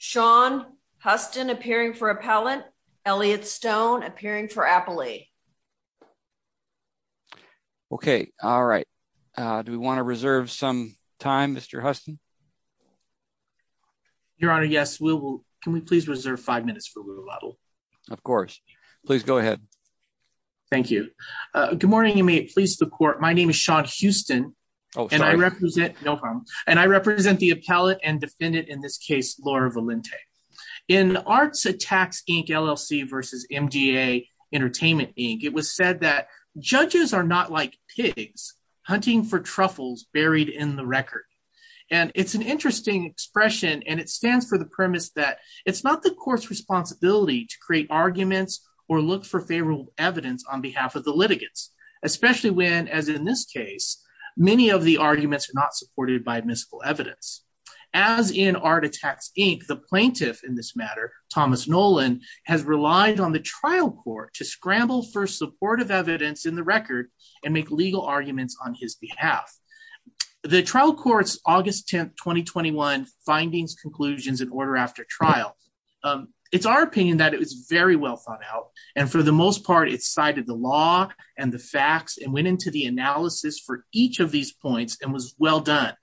Sean Huston appearing for Appellant, Elliot Stone appearing for Appalee. Okay. All right. Do we want to reserve some time, Mr. Huston? Your Honor, yes, we will. Can we please reserve five minutes for Louis Luttle? Of course. Please go ahead. Thank you. Good morning, and may it please the Court. My name is Sean Huston. Oh, sorry. No harm. And I represent the appellate and defendant in this case, Laura Valente. In Arts Attacks, Inc. LLC versus MDA Entertainment, Inc., it was said that judges are not like pigs hunting for truffles buried in the record. And it's an interesting expression, and it stands for the premise that it's not the court's responsibility to create arguments or look for favorable evidence on behalf of the litigants, especially when, as in this case, many of the arguments are not supported by mystical evidence. As in Arts Attacks, Inc., the plaintiff in this matter, Thomas Nolan, has relied on the trial court to scramble for supportive evidence in the record and make legal arguments on his behalf. The trial court's August 10, 2021 findings, conclusions, and order after trial. It's our opinion that it was very well thought out, and for the most part, it cited the law and the facts and went into the analysis for each of these points and was well done.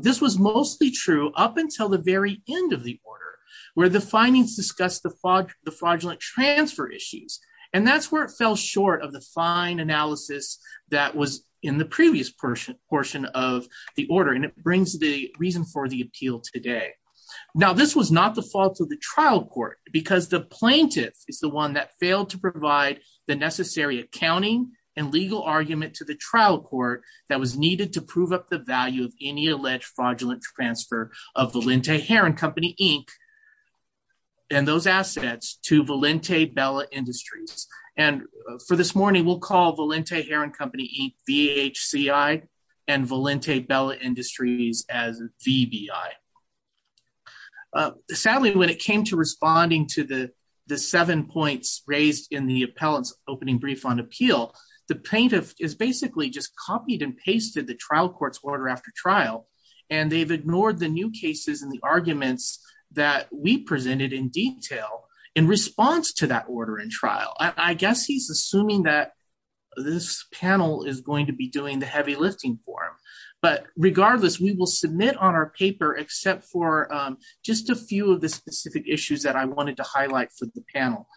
This was mostly true up until the very end of the order, where the findings discussed the fraudulent transfer issues. And that's where it fell short of the fine analysis that was in the previous portion of the order, and it brings the reason for the appeal today. Now, this was not the fault of the trial court, because the plaintiff is the one that failed to provide the necessary accounting and legal argument to the trial court that was needed to prove up the value of any alleged fraudulent transfer of Valente Heron Company, Inc. and those assets to Valente Bella Industries. And for this morning, we'll call Valente Heron Company, VHCI, and Valente Bella Industries as VBI. Sadly, when it came to responding to the seven points raised in the appellant's opening brief on appeal, the plaintiff is basically just copied and pasted the trial court's order after trial, and they've ignored the new cases and the arguments that we presented in detail in response to that order and trial. I guess he's assuming that this panel is going to be doing the heavy lifting for him. But regardless, we will submit on our paper except for just a few of the specific issues that I wanted to highlight for the panel.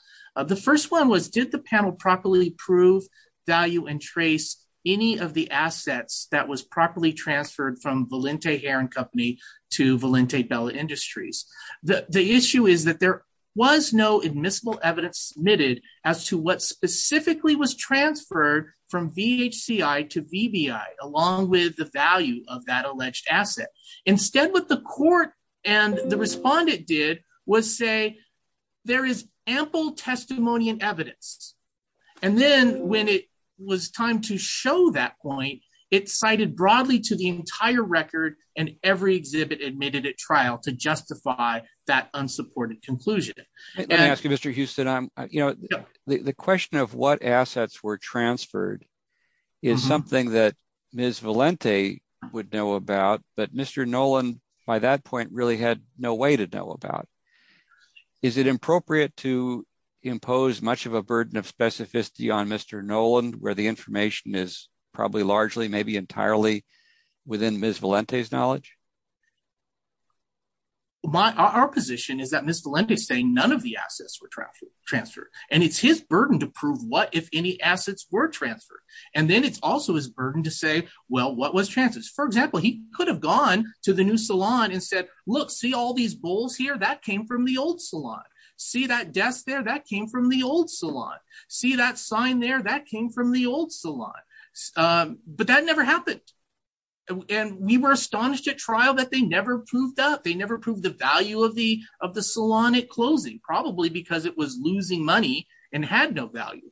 The first one was, did the panel properly prove, value, and trace any of the assets that was properly transferred from Valente Heron Company to Valente Bella Industries? The issue is that there was no admissible evidence submitted as to what specifically was transferred from VHCI to VBI along with the value of that alleged asset. Instead, what the court and the respondent did was say, there is ample testimony and evidence. And then when it was time to show that point, it cited broadly to the entire record and every exhibit admitted at trial to justify that unsupported conclusion. Let me ask you, Mr. Houston. The question of what assets were transferred is something that Ms. Valente would know about, but Mr. Noland by that point really had no way to know about. Is it appropriate to impose much of a burden of specificity on Mr. Noland where the information is probably largely, maybe entirely within Ms. Valente's knowledge? Our position is that Ms. Valente is saying none of the assets were transferred, and it's his burden to prove what, if any, assets were transferred. And then it's also his burden to say, well, what was transferred? For example, he could have gone to the new salon and said, look, see all these bowls here? That came from the old salon. See that desk there? That came from the old salon. See that sign there? That came from the old salon. But that never happened. And we were astonished at trial that they never proved that. They never proved the value of the salon at closing, probably because it was losing money and had no value.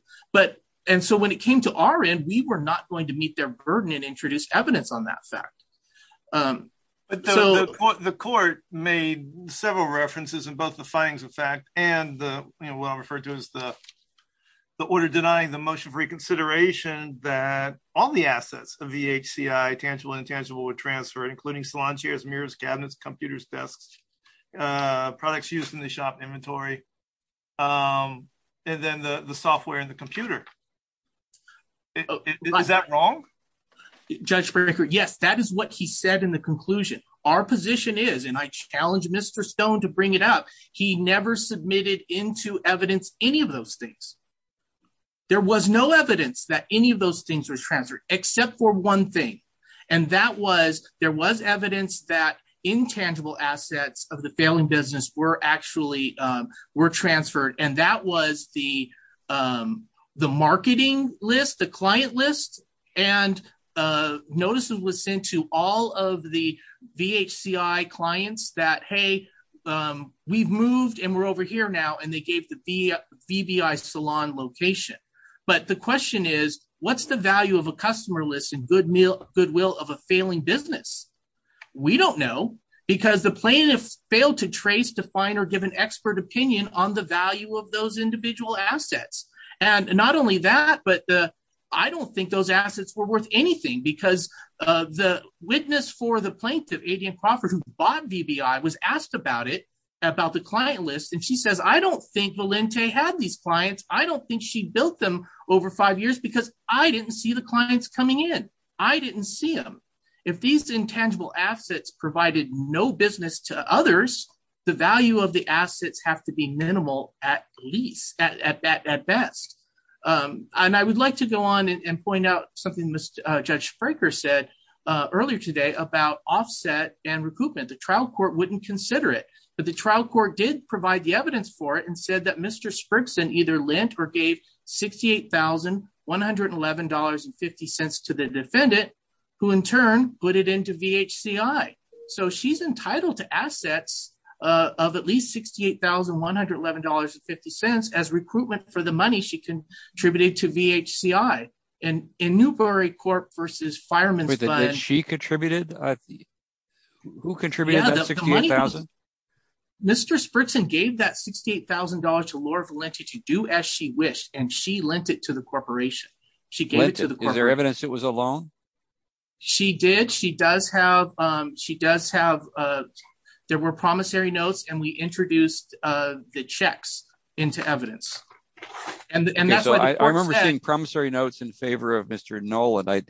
And so when it came to our end, we were not going to meet their burden and introduce evidence on that fact. But the court made several references in both the findings of fact and what I refer to as the order denying the motion for reconsideration that all the assets of VHCI tangible and intangible were transferred, including salon chairs, mirrors, cabinets, computers, desks, products used in the shop inventory, and then the software and the computer. Is that wrong? Judge Brekker, yes, that is what he said in the conclusion. Our position is and I challenge Mr. Stone to bring it up. He never submitted into evidence any of those things. There was no evidence that any of those things were transferred except for one thing, and that was there was evidence that intangible assets of the failing business were actually were transferred. And that was the the marketing list, the client list. And notice it was sent to all of the VHCI clients that, hey, we've moved and we're over here now. And they gave the VBI salon location. But the question is, what's the value of a customer list and goodwill of a failing business? We don't know because the plaintiff failed to trace, define or give an expert opinion on the value of those individual assets. And not only that, but I don't think those assets were worth anything because the witness for the plaintiff, Adrienne Crawford, who bought VBI, was asked about it, about the client list. And she says, I don't think Valente had these clients. I don't think she built them over five years because I didn't see the clients coming in. I didn't see them. If these intangible assets provided no business to others, the value of the assets have to be minimal at least at best. And I would like to go on and point out something Judge Fraker said earlier today about offset and recoupment. But the trial court did provide the evidence for it and said that Mr. Sprigson either lent or gave $68,111.50 to the defendant, who in turn put it into VHCI. So she's entitled to assets of at least $68,111.50 as recruitment for the money she contributed to VHCI. And in Newbery Corp versus Fireman's Fund. Did she contributed? Who contributed that $68,111.50? Mr. Sprigson gave that $68,111.50 to Laura Valente to do as she wished and she lent it to the corporation. She gave it to the corporation. Is there evidence it was a loan? She did. She does have, there were promissory notes and we introduced the checks into evidence. I remember seeing promissory notes in favor of Mr. Noland. I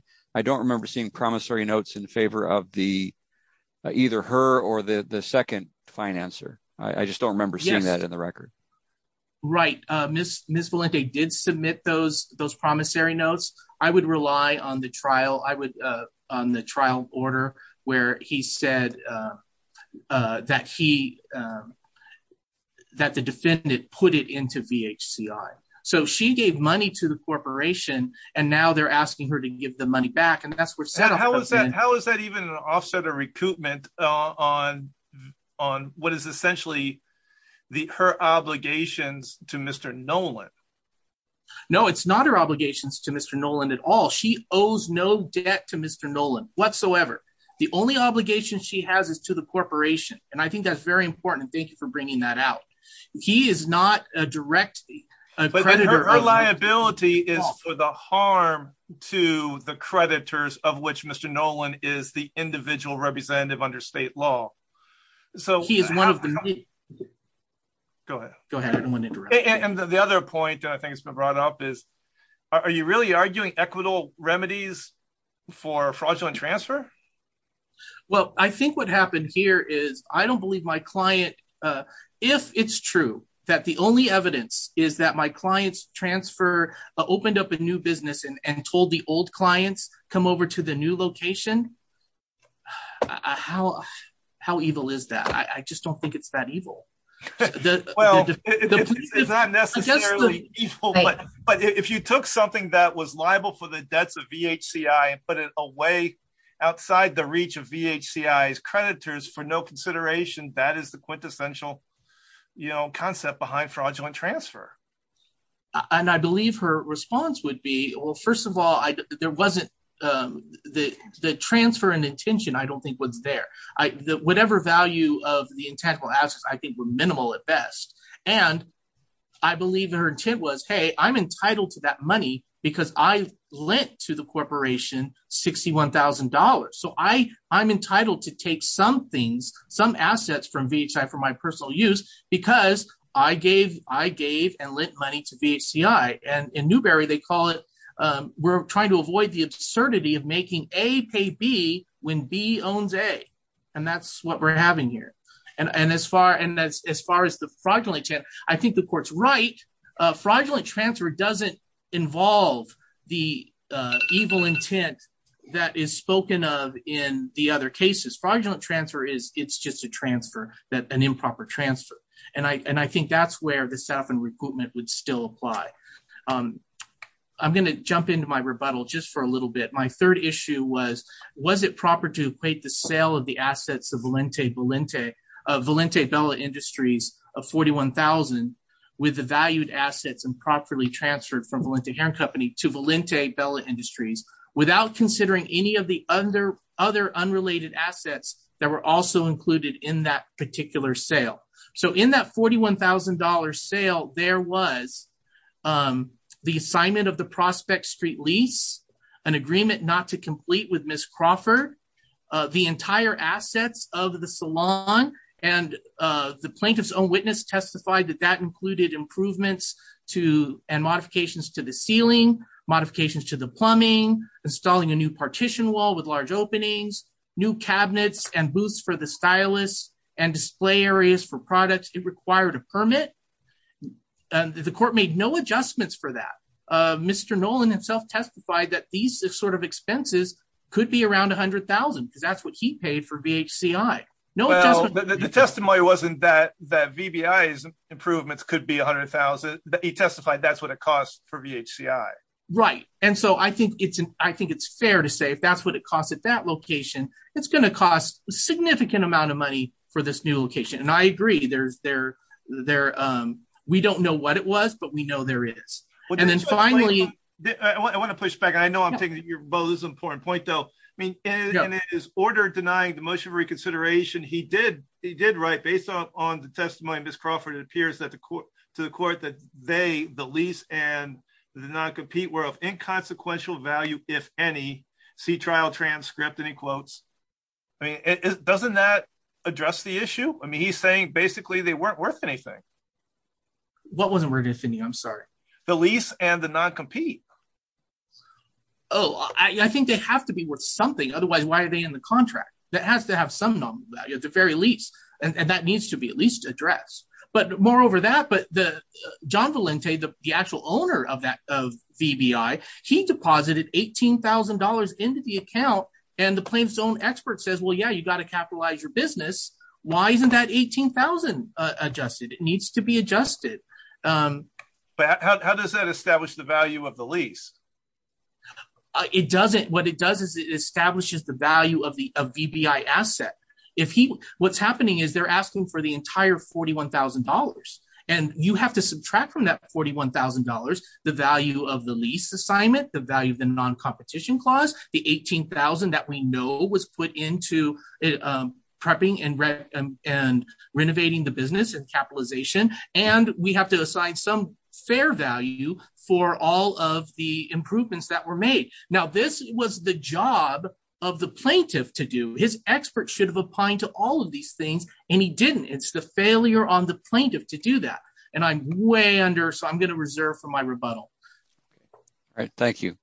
don't remember seeing promissory notes in favor of either her or the second financer. I just don't remember seeing that in the record. Right. Ms. Valente did submit those promissory notes. I would rely on the trial order where he said that the defendant put it into VHCI. So she gave money to the corporation and now they're asking her to give the money back. How is that even an offset of recoupment on what is essentially her obligations to Mr. Noland? No, it's not her obligations to Mr. Noland at all. She owes no debt to Mr. Noland whatsoever. The only obligation she has is to the corporation. And I think that's very important. Thank you for bringing that out. He is not a direct creditor. Her liability is for the harm to the creditors of which Mr. Noland is the individual representative under state law. He is one of them. Go ahead. And the other point that I think has been brought up is are you really arguing equitable remedies for fraudulent transfer? Well, I think what happened here is I don't believe my client. If it's true that the only evidence is that my clients transfer opened up a new business and told the old clients come over to the new location. How how evil is that? I just don't think it's that evil. Well, it's not necessarily evil. But if you took something that was liable for the debts of VHCI and put it away outside the reach of VHCI's creditors for no consideration, that is the quintessential concept behind fraudulent transfer. And I believe her response would be, well, first of all, there wasn't the transfer and intention I don't think was there. Whatever value of the intangible assets I think were minimal at best. And I believe her intent was, hey, I'm entitled to that money because I lent to the corporation $61,000. So I I'm entitled to take some things, some assets from VHCI for my personal use because I gave I gave and lent money to VHCI. And in Newberry, they call it we're trying to avoid the absurdity of making A pay B when B owns A. And that's what we're having here. And as far and as far as the fraudulent intent, I think the court's right. Fraudulent transfer doesn't involve the evil intent that is spoken of in the other cases. Fraudulent transfer is it's just a transfer that an improper transfer. And I and I think that's where the staff and recruitment would still apply. I'm going to jump into my rebuttal just for a little bit. My third issue was, was it proper to equate the sale of the assets of Valente Bella Industries of $41,000 with the valued assets and properly transferred from Valente Hair & Company to Valente Bella Industries without considering any of the other unrelated assets that were also included in that particular sale? So in that $41,000 sale, there was the assignment of the prospect street lease, an agreement not to complete with Miss Crawford, the entire assets of the salon. And the plaintiff's own witness testified that that included improvements to and modifications to the ceiling, modifications to the plumbing, installing a new partition wall with large openings, new cabinets and booths for the stylus and display areas for products. It required a permit. The court made no adjustments for that. Mr. Nolan himself testified that these sort of expenses could be around $100,000 because that's what he paid for VHCI. The testimony wasn't that that VBI's improvements could be $100,000. He testified that's what it costs for VHCI. Right. And so I think it's I think it's fair to say if that's what it costs at that location, it's going to cost a significant amount of money for this new location. And I agree. There's there there. We don't know what it was, but we know there is. And then finally, I want to push back. I know I'm taking your ball is important point, though. I mean, in his order denying the motion for reconsideration, he did. He did. Right. Based on the testimony, Miss Crawford, it appears that the court to the court that they, the lease and the non-compete were of inconsequential value, if any. See trial transcript. And he quotes, I mean, doesn't that address the issue? I mean, he's saying basically they weren't worth anything. What wasn't worth anything? I'm sorry. The lease and the non-compete. Oh, I think they have to be worth something. Otherwise, why are they in the contract? That has to have some value at the very least. And that needs to be at least addressed. But moreover that. But the John Valente, the actual owner of that of VBI, he deposited eighteen thousand dollars into the account. And the plaintiff's own expert says, well, yeah, you've got to capitalize your business. Why isn't that eighteen thousand adjusted? It needs to be adjusted. How does that establish the value of the lease? It doesn't. What it does is it establishes the value of the VBI asset. If he what's happening is they're asking for the entire forty one thousand dollars and you have to subtract from that forty one thousand dollars. The value of the lease assignment, the value of the non-competition clause, the eighteen thousand that we know was put into prepping and and renovating the business and capitalization. And we have to assign some fair value for all of the improvements that were made. Now, this was the job of the plaintiff to do. His expert should have opined to all of these things and he didn't. It's the failure on the plaintiff to do that. And I'm way under. So I'm going to reserve for my rebuttal. All right. Thank you,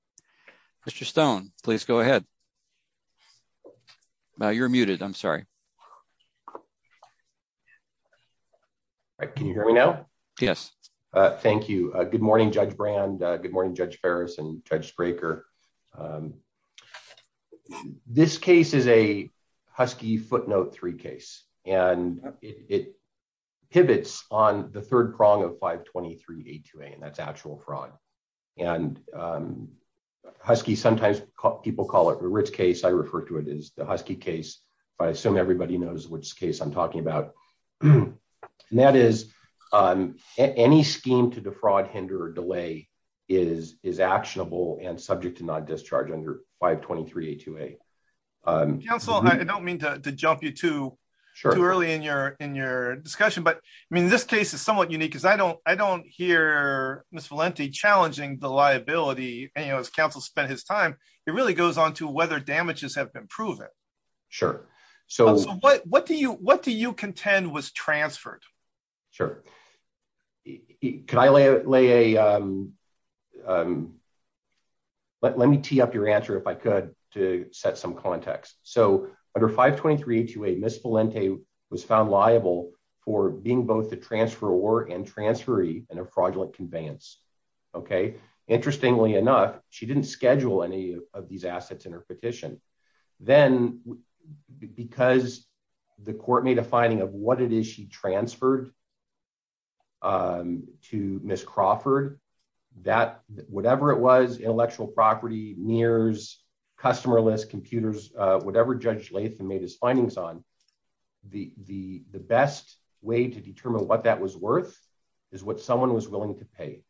Mr. Stone. Please go ahead. You're muted. I'm sorry. Can you hear me now? Yes. Thank you. Good morning, Judge Brand. Good morning, Judge Ferris and Judge Breaker. This case is a Husky footnote three case and it pivots on the third prong of five. Twenty three to eight. And that's actual fraud. And Husky sometimes people call it a rich case. I refer to it as the Husky case. I assume everybody knows which case I'm talking about. And that is any scheme to defraud, hinder or delay is is actionable and subject to not discharge under five. Twenty three to eight. Counsel, I don't mean to jump you to early in your in your discussion, but I mean, this case is somewhat unique because I don't I don't hear Miss Valenti challenging the liability. You know, as counsel spent his time, it really goes on to whether damages have been proven. Sure. So what what do you what do you contend was transferred? Sure. Can I lay a lay a. Let me tee up your answer, if I could, to set some context. So under five, twenty three to eight, Miss Valenti was found liable for being both the transfer or and transferee and a fraudulent conveyance. OK. Interestingly enough, she didn't schedule any of these assets in her petition. Then because the court made a finding of what it is she transferred. To Miss Crawford, that whatever it was, intellectual property, mirrors, customer list computers, whatever Judge Latham made his findings on the the the best way to determine what that was worth is what someone was willing to pay.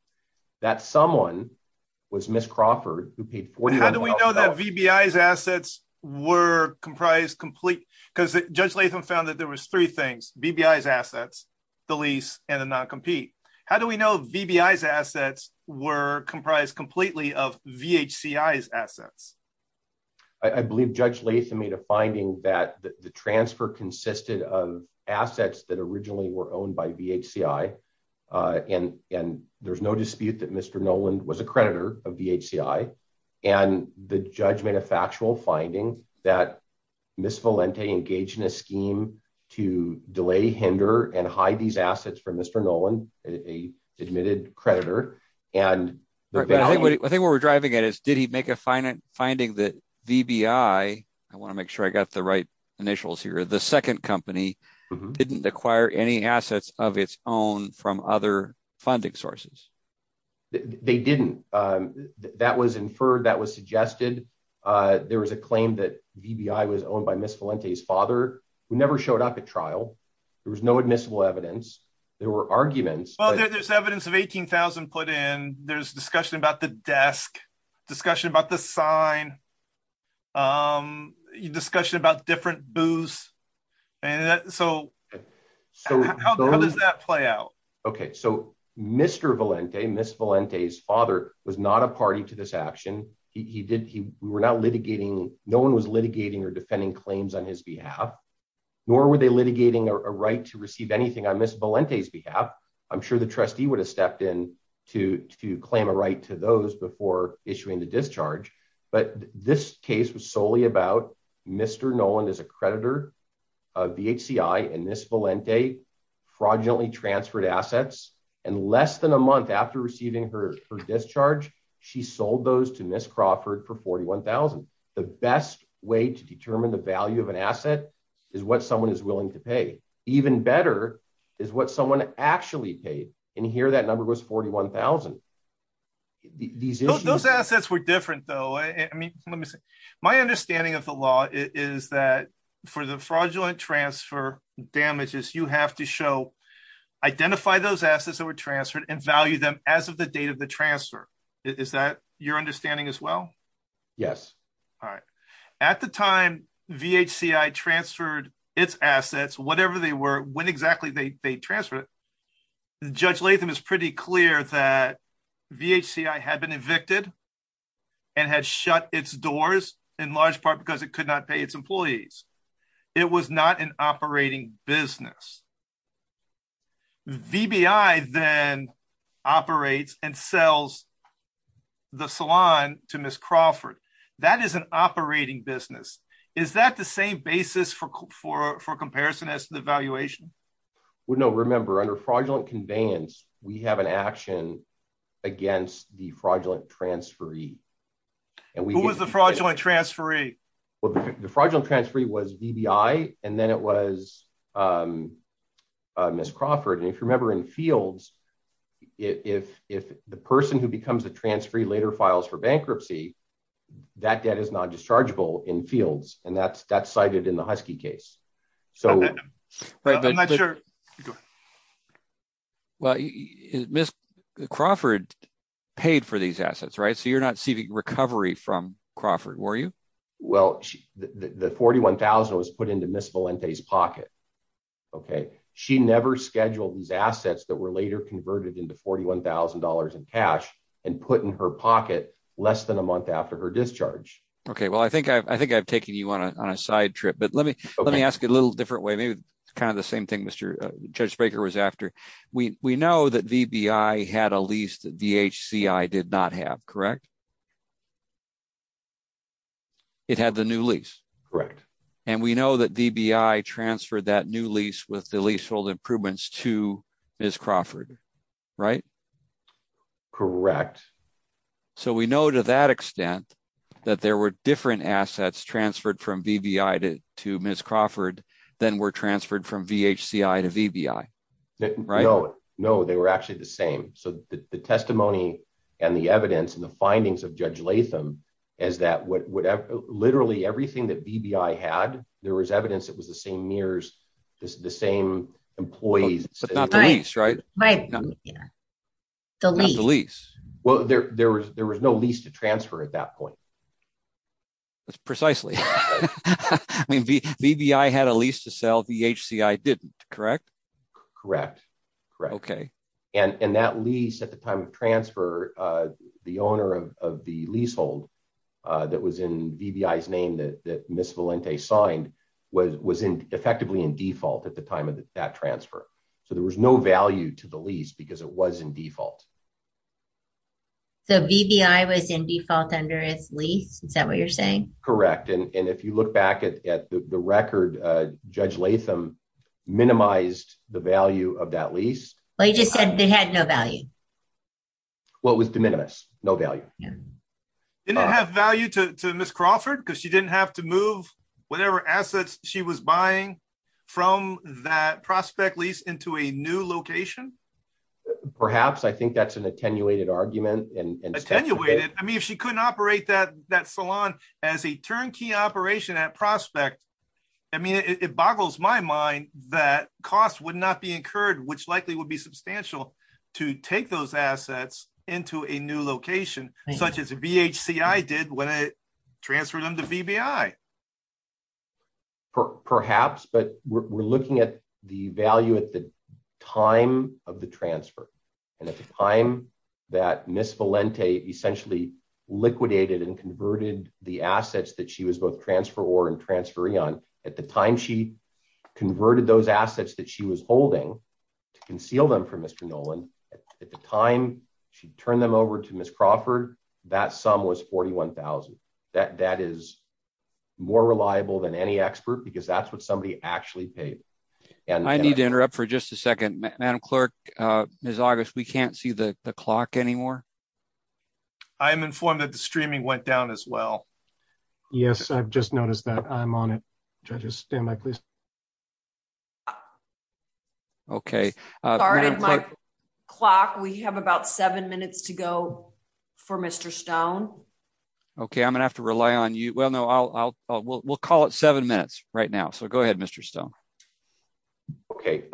That someone was Miss Crawford, who paid. How do we know that VBI's assets were comprised complete? Because Judge Latham found that there was three things, VBI's assets, the lease and the non-compete. How do we know VBI's assets were comprised completely of VHCI's assets? I believe Judge Latham made a finding that the transfer consisted of assets that originally were owned by VHCI. And and there's no dispute that Mr. Noland was a creditor of VHCI. And the judge made a factual finding that Miss Valente engaged in a scheme to delay, hinder and hide these assets from Mr. Noland, a admitted creditor. I think what we're driving at is, did he make a finding that VBI, I want to make sure I got the right initials here. The second company didn't acquire any assets of its own from other funding sources. They didn't. That was inferred. That was suggested. There was a claim that VBI was owned by Miss Valente's father, who never showed up at trial. There was no admissible evidence. There were arguments. Well, there's evidence of 18,000 put in. There's discussion about the desk, discussion about the sign. Discussion about different booths. And so how does that play out? OK, so Mr. Valente, Miss Valente's father was not a party to this action. He did. He were not litigating. No one was litigating or defending claims on his behalf, nor were they litigating a right to receive anything on Miss Valente's behalf. I'm sure the trustee would have stepped in to to claim a right to those before issuing the discharge. But this case was solely about Mr. Noland as a creditor of VCI and Miss Valente fraudulently transferred assets. And less than a month after receiving her discharge, she sold those to Miss Crawford for forty one thousand. The best way to determine the value of an asset is what someone is willing to pay. Even better is what someone actually paid. And here that number was forty one thousand. These those assets were different, though. I mean, let me say my understanding of the law is that for the fraudulent transfer damages, you have to show identify those assets that were transferred and value them as of the date of the transfer. Is that your understanding as well? Yes. All right. At the time, VHCI transferred its assets, whatever they were, when exactly they transferred it. Judge Latham is pretty clear that VHCI had been evicted and had shut its doors in large part because it could not pay its employees. It was not an operating business. VBI then operates and sells the salon to Miss Crawford. That is an operating business. Is that the same basis for for for comparison as the valuation? Well, no. Remember, under fraudulent conveyance, we have an action against the fraudulent transferee. And who was the fraudulent transferee? Well, the fraudulent transferee was VBI and then it was Miss Crawford. And if you remember in fields, if if the person who becomes the transferee later files for bankruptcy, that debt is not dischargeable in fields. And that's that's cited in the Husky case. So I'm not sure. Well, Miss Crawford paid for these assets. Right. So you're not seeking recovery from Crawford, were you? Well, the forty one thousand was put into Miss Valente's pocket. OK, she never scheduled these assets that were later converted into forty one thousand dollars in cash and put in her pocket less than a month after her discharge. OK, well, I think I think I've taken you on a side trip, but let me let me ask a little different way. Kind of the same thing, Mr. Judge Baker was after. We know that VBI had a lease that VHCI did not have. Correct. It had the new lease. Correct. And we know that VBI transferred that new lease with the leasehold improvements to Miss Crawford. Right. Correct. So we know to that extent that there were different assets transferred from VBI to to Miss Crawford than were transferred from VHCI to VBI. Right. No, they were actually the same. So the testimony and the evidence and the findings of Judge Latham is that whatever literally everything that VBI had, there was evidence it was the same years, the same employees. But not the lease. Right. Right. The lease. Well, there was there was no lease to transfer at that point. That's precisely I mean, VBI had a lease to sell. VHCI didn't. Correct. Correct. Correct. OK. And that lease at the time of transfer, the owner of the leasehold that was in VBI's name that Miss Valente signed was was effectively in default at the time of that transfer. So there was no value to the lease because it was in default. So VBI was in default under its lease. Is that what you're saying? Correct. And if you look back at the record, Judge Latham minimized the value of that lease. They just said they had no value. What was the minimus? No value. Didn't have value to Miss Crawford because she didn't have to move whatever assets she was buying from that prospect lease into a new location. Perhaps I think that's an attenuated argument and attenuated. I mean, if she couldn't operate that that salon as a turnkey operation at prospect. I mean, it boggles my mind that costs would not be incurred, which likely would be substantial to take those assets into a new location, such as VHCI did when it transferred them to VBI. Perhaps, but we're looking at the value at the time of the transfer and at the time that Miss Valente essentially liquidated and converted the assets that she was both transfer or transferring on. At the time, she converted those assets that she was holding to conceal them from Mr. Nolan. At the time, she turned them over to Miss Crawford. That sum was $41,000. That is more reliable than any expert because that's what somebody actually paid. I need to interrupt for just a second. Madam Clerk, Miss August, we can't see the clock anymore. I am informed that the streaming went down as well. Yes, I've just noticed that I'm on it. Just stand by, please. OK. Clock. We have about seven minutes to go for Mr. Stone. OK, I'm going to have to rely on you. Well, no, I'll we'll call it seven minutes right now. So go ahead, Mr. Stone. OK,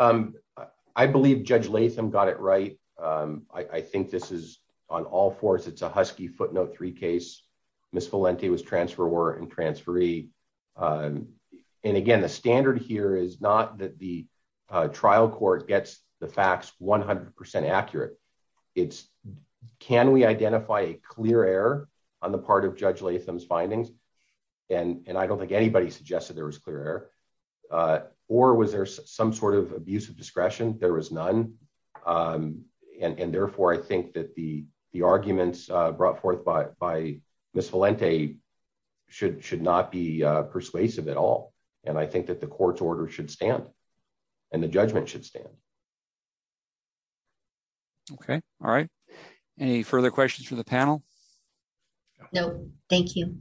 I believe Judge Latham got it right. I think this is on all fours. It's a Husky footnote three case. Miss Valente was transfer were in transferee. And again, the standard here is not that the trial court gets the facts 100 percent accurate. It's can we identify a clear error on the part of Judge Latham's findings? And I don't think anybody suggested there was clear or was there some sort of abuse of discretion? There was none. And therefore, I think that the the arguments brought forth by Miss Valente should should not be persuasive at all. And I think that the court's order should stand and the judgment should stand. OK, all right. Any further questions for the panel? No, thank you.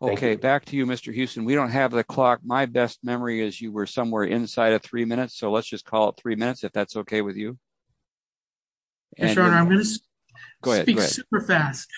OK, back to you, Mr. Huston. We don't have the clock. My best memory is you were somewhere inside of three minutes. So let's just call it three minutes, if that's OK with you. And I'm going to go ahead and speak super fast,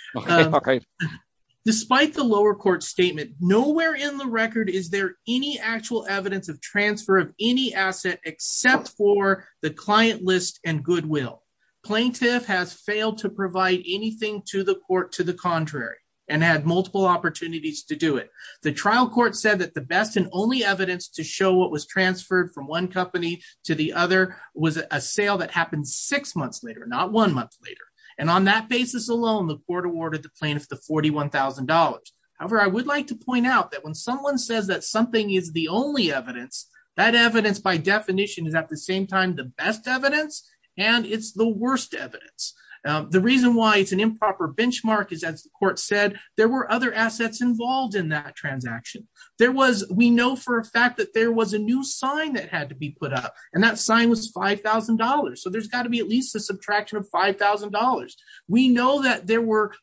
despite the lower court statement. Nowhere in the record is there any actual evidence of transfer of any asset except for the client list and goodwill. Plaintiff has failed to provide anything to the court to the contrary and had multiple opportunities to do it. The trial court said that the best and only evidence to show what was transferred from one company to the other was a sale that happened six months later, not one month later. And on that basis alone, the court awarded the plaintiff the forty one thousand dollars. However, I would like to point out that when someone says that something is the only evidence, that evidence by definition is at the same time the best evidence and it's the worst evidence. The reason why it's an improper benchmark is, as the court said, there were other assets involved in that transaction. There was we know for a fact that there was a new sign that had to be put up and that sign was five thousand dollars. So there's got to be at least a subtraction of five thousand dollars. We know that there were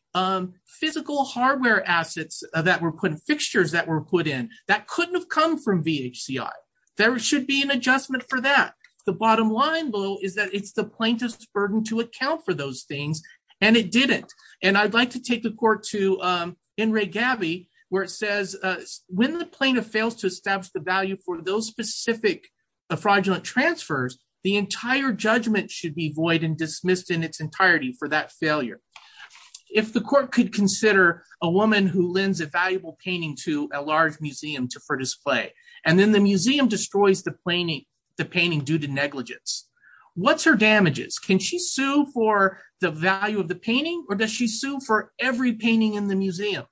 physical hardware assets that were put in fixtures that were put in that couldn't have come from VHCI. There should be an adjustment for that. The bottom line, though, is that it's the plaintiff's burden to account for those things. And it didn't. And I'd like to take the court to in Ray Gabby, where it says when the plaintiff fails to establish the value for those specific fraudulent transfers, the entire judgment should be void and dismissed in its entirety for that failure. If the court could consider a woman who lends a valuable painting to a large museum for display and then the museum destroys the painting due to negligence, what's her damages? Can she sue for the value of the painting or does she sue for every painting in the museum?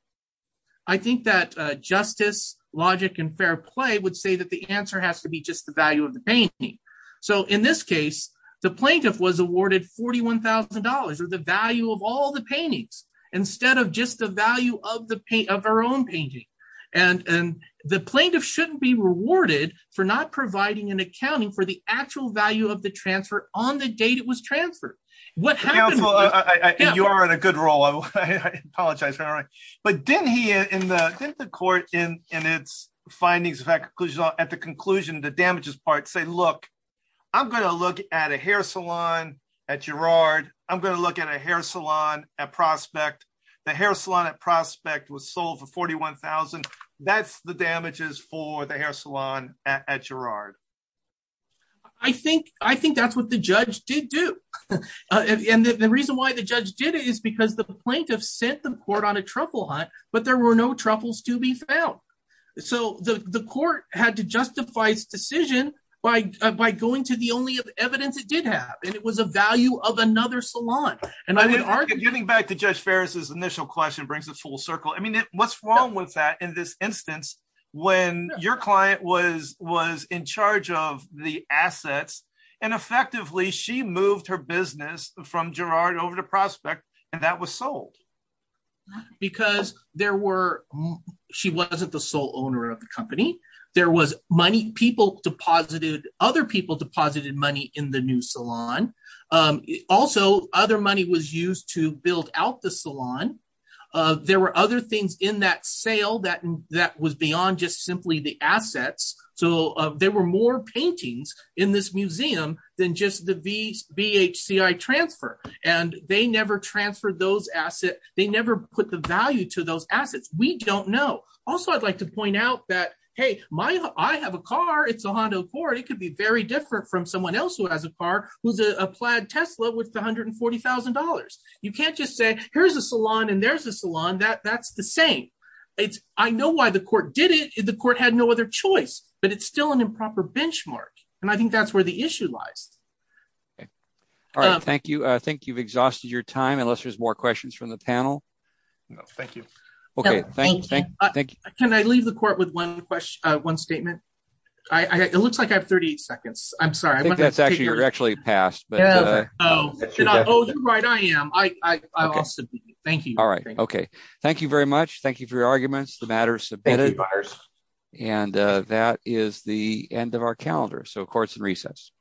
I think that justice, logic and fair play would say that the answer has to be just the value of the painting. So in this case, the plaintiff was awarded forty one thousand dollars or the value of all the paintings instead of just the value of the paint of our own painting. And the plaintiff shouldn't be rewarded for not providing an accounting for the actual value of the transfer on the date it was transferred. You are in a good role. I apologize. All right. But didn't he in the court in its findings, in fact, at the conclusion, the damages part say, look, I'm going to look at a hair salon at Girard. I'm going to look at a hair salon at Prospect. The hair salon at Prospect was sold for forty one thousand. That's the damages for the hair salon at Girard. I think I think that's what the judge did do. And the reason why the judge did it is because the plaintiff sent the court on a truffle hunt. But there were no truffles to be found. So the court had to justify its decision by by going to the only evidence it did have. And it was a value of another salon. And I would argue getting back to Judge Ferris's initial question brings the full circle. I mean, what's wrong with that? In this instance, when your client was was in charge of the assets and effectively she moved her business from Girard over to Prospect and that was sold. Because there were she wasn't the sole owner of the company. There was money people deposited. Other people deposited money in the new salon. Also, other money was used to build out the salon. There were other things in that sale that that was beyond just simply the assets. So there were more paintings in this museum than just the BHCI transfer. And they never transferred those assets. They never put the value to those assets. We don't know. Also, I'd like to point out that, hey, I have a car. It's a Honda Accord. It could be very different from someone else who has a car who's a plaid Tesla with one hundred and forty thousand dollars. You can't just say here's a salon and there's a salon that that's the same. It's I know why the court did it. The court had no other choice, but it's still an improper benchmark. And I think that's where the issue lies. Thank you. I think you've exhausted your time unless there's more questions from the panel. No, thank you. OK, thank you. Thank you. Can I leave the court with one question? One statement. It looks like I have 30 seconds. I'm sorry. That's actually you're actually passed. Oh, right. I am. I thank you. All right. OK, thank you very much. Thank you for your arguments. The matter is submitted. And that is the end of our calendar. So courts and recess.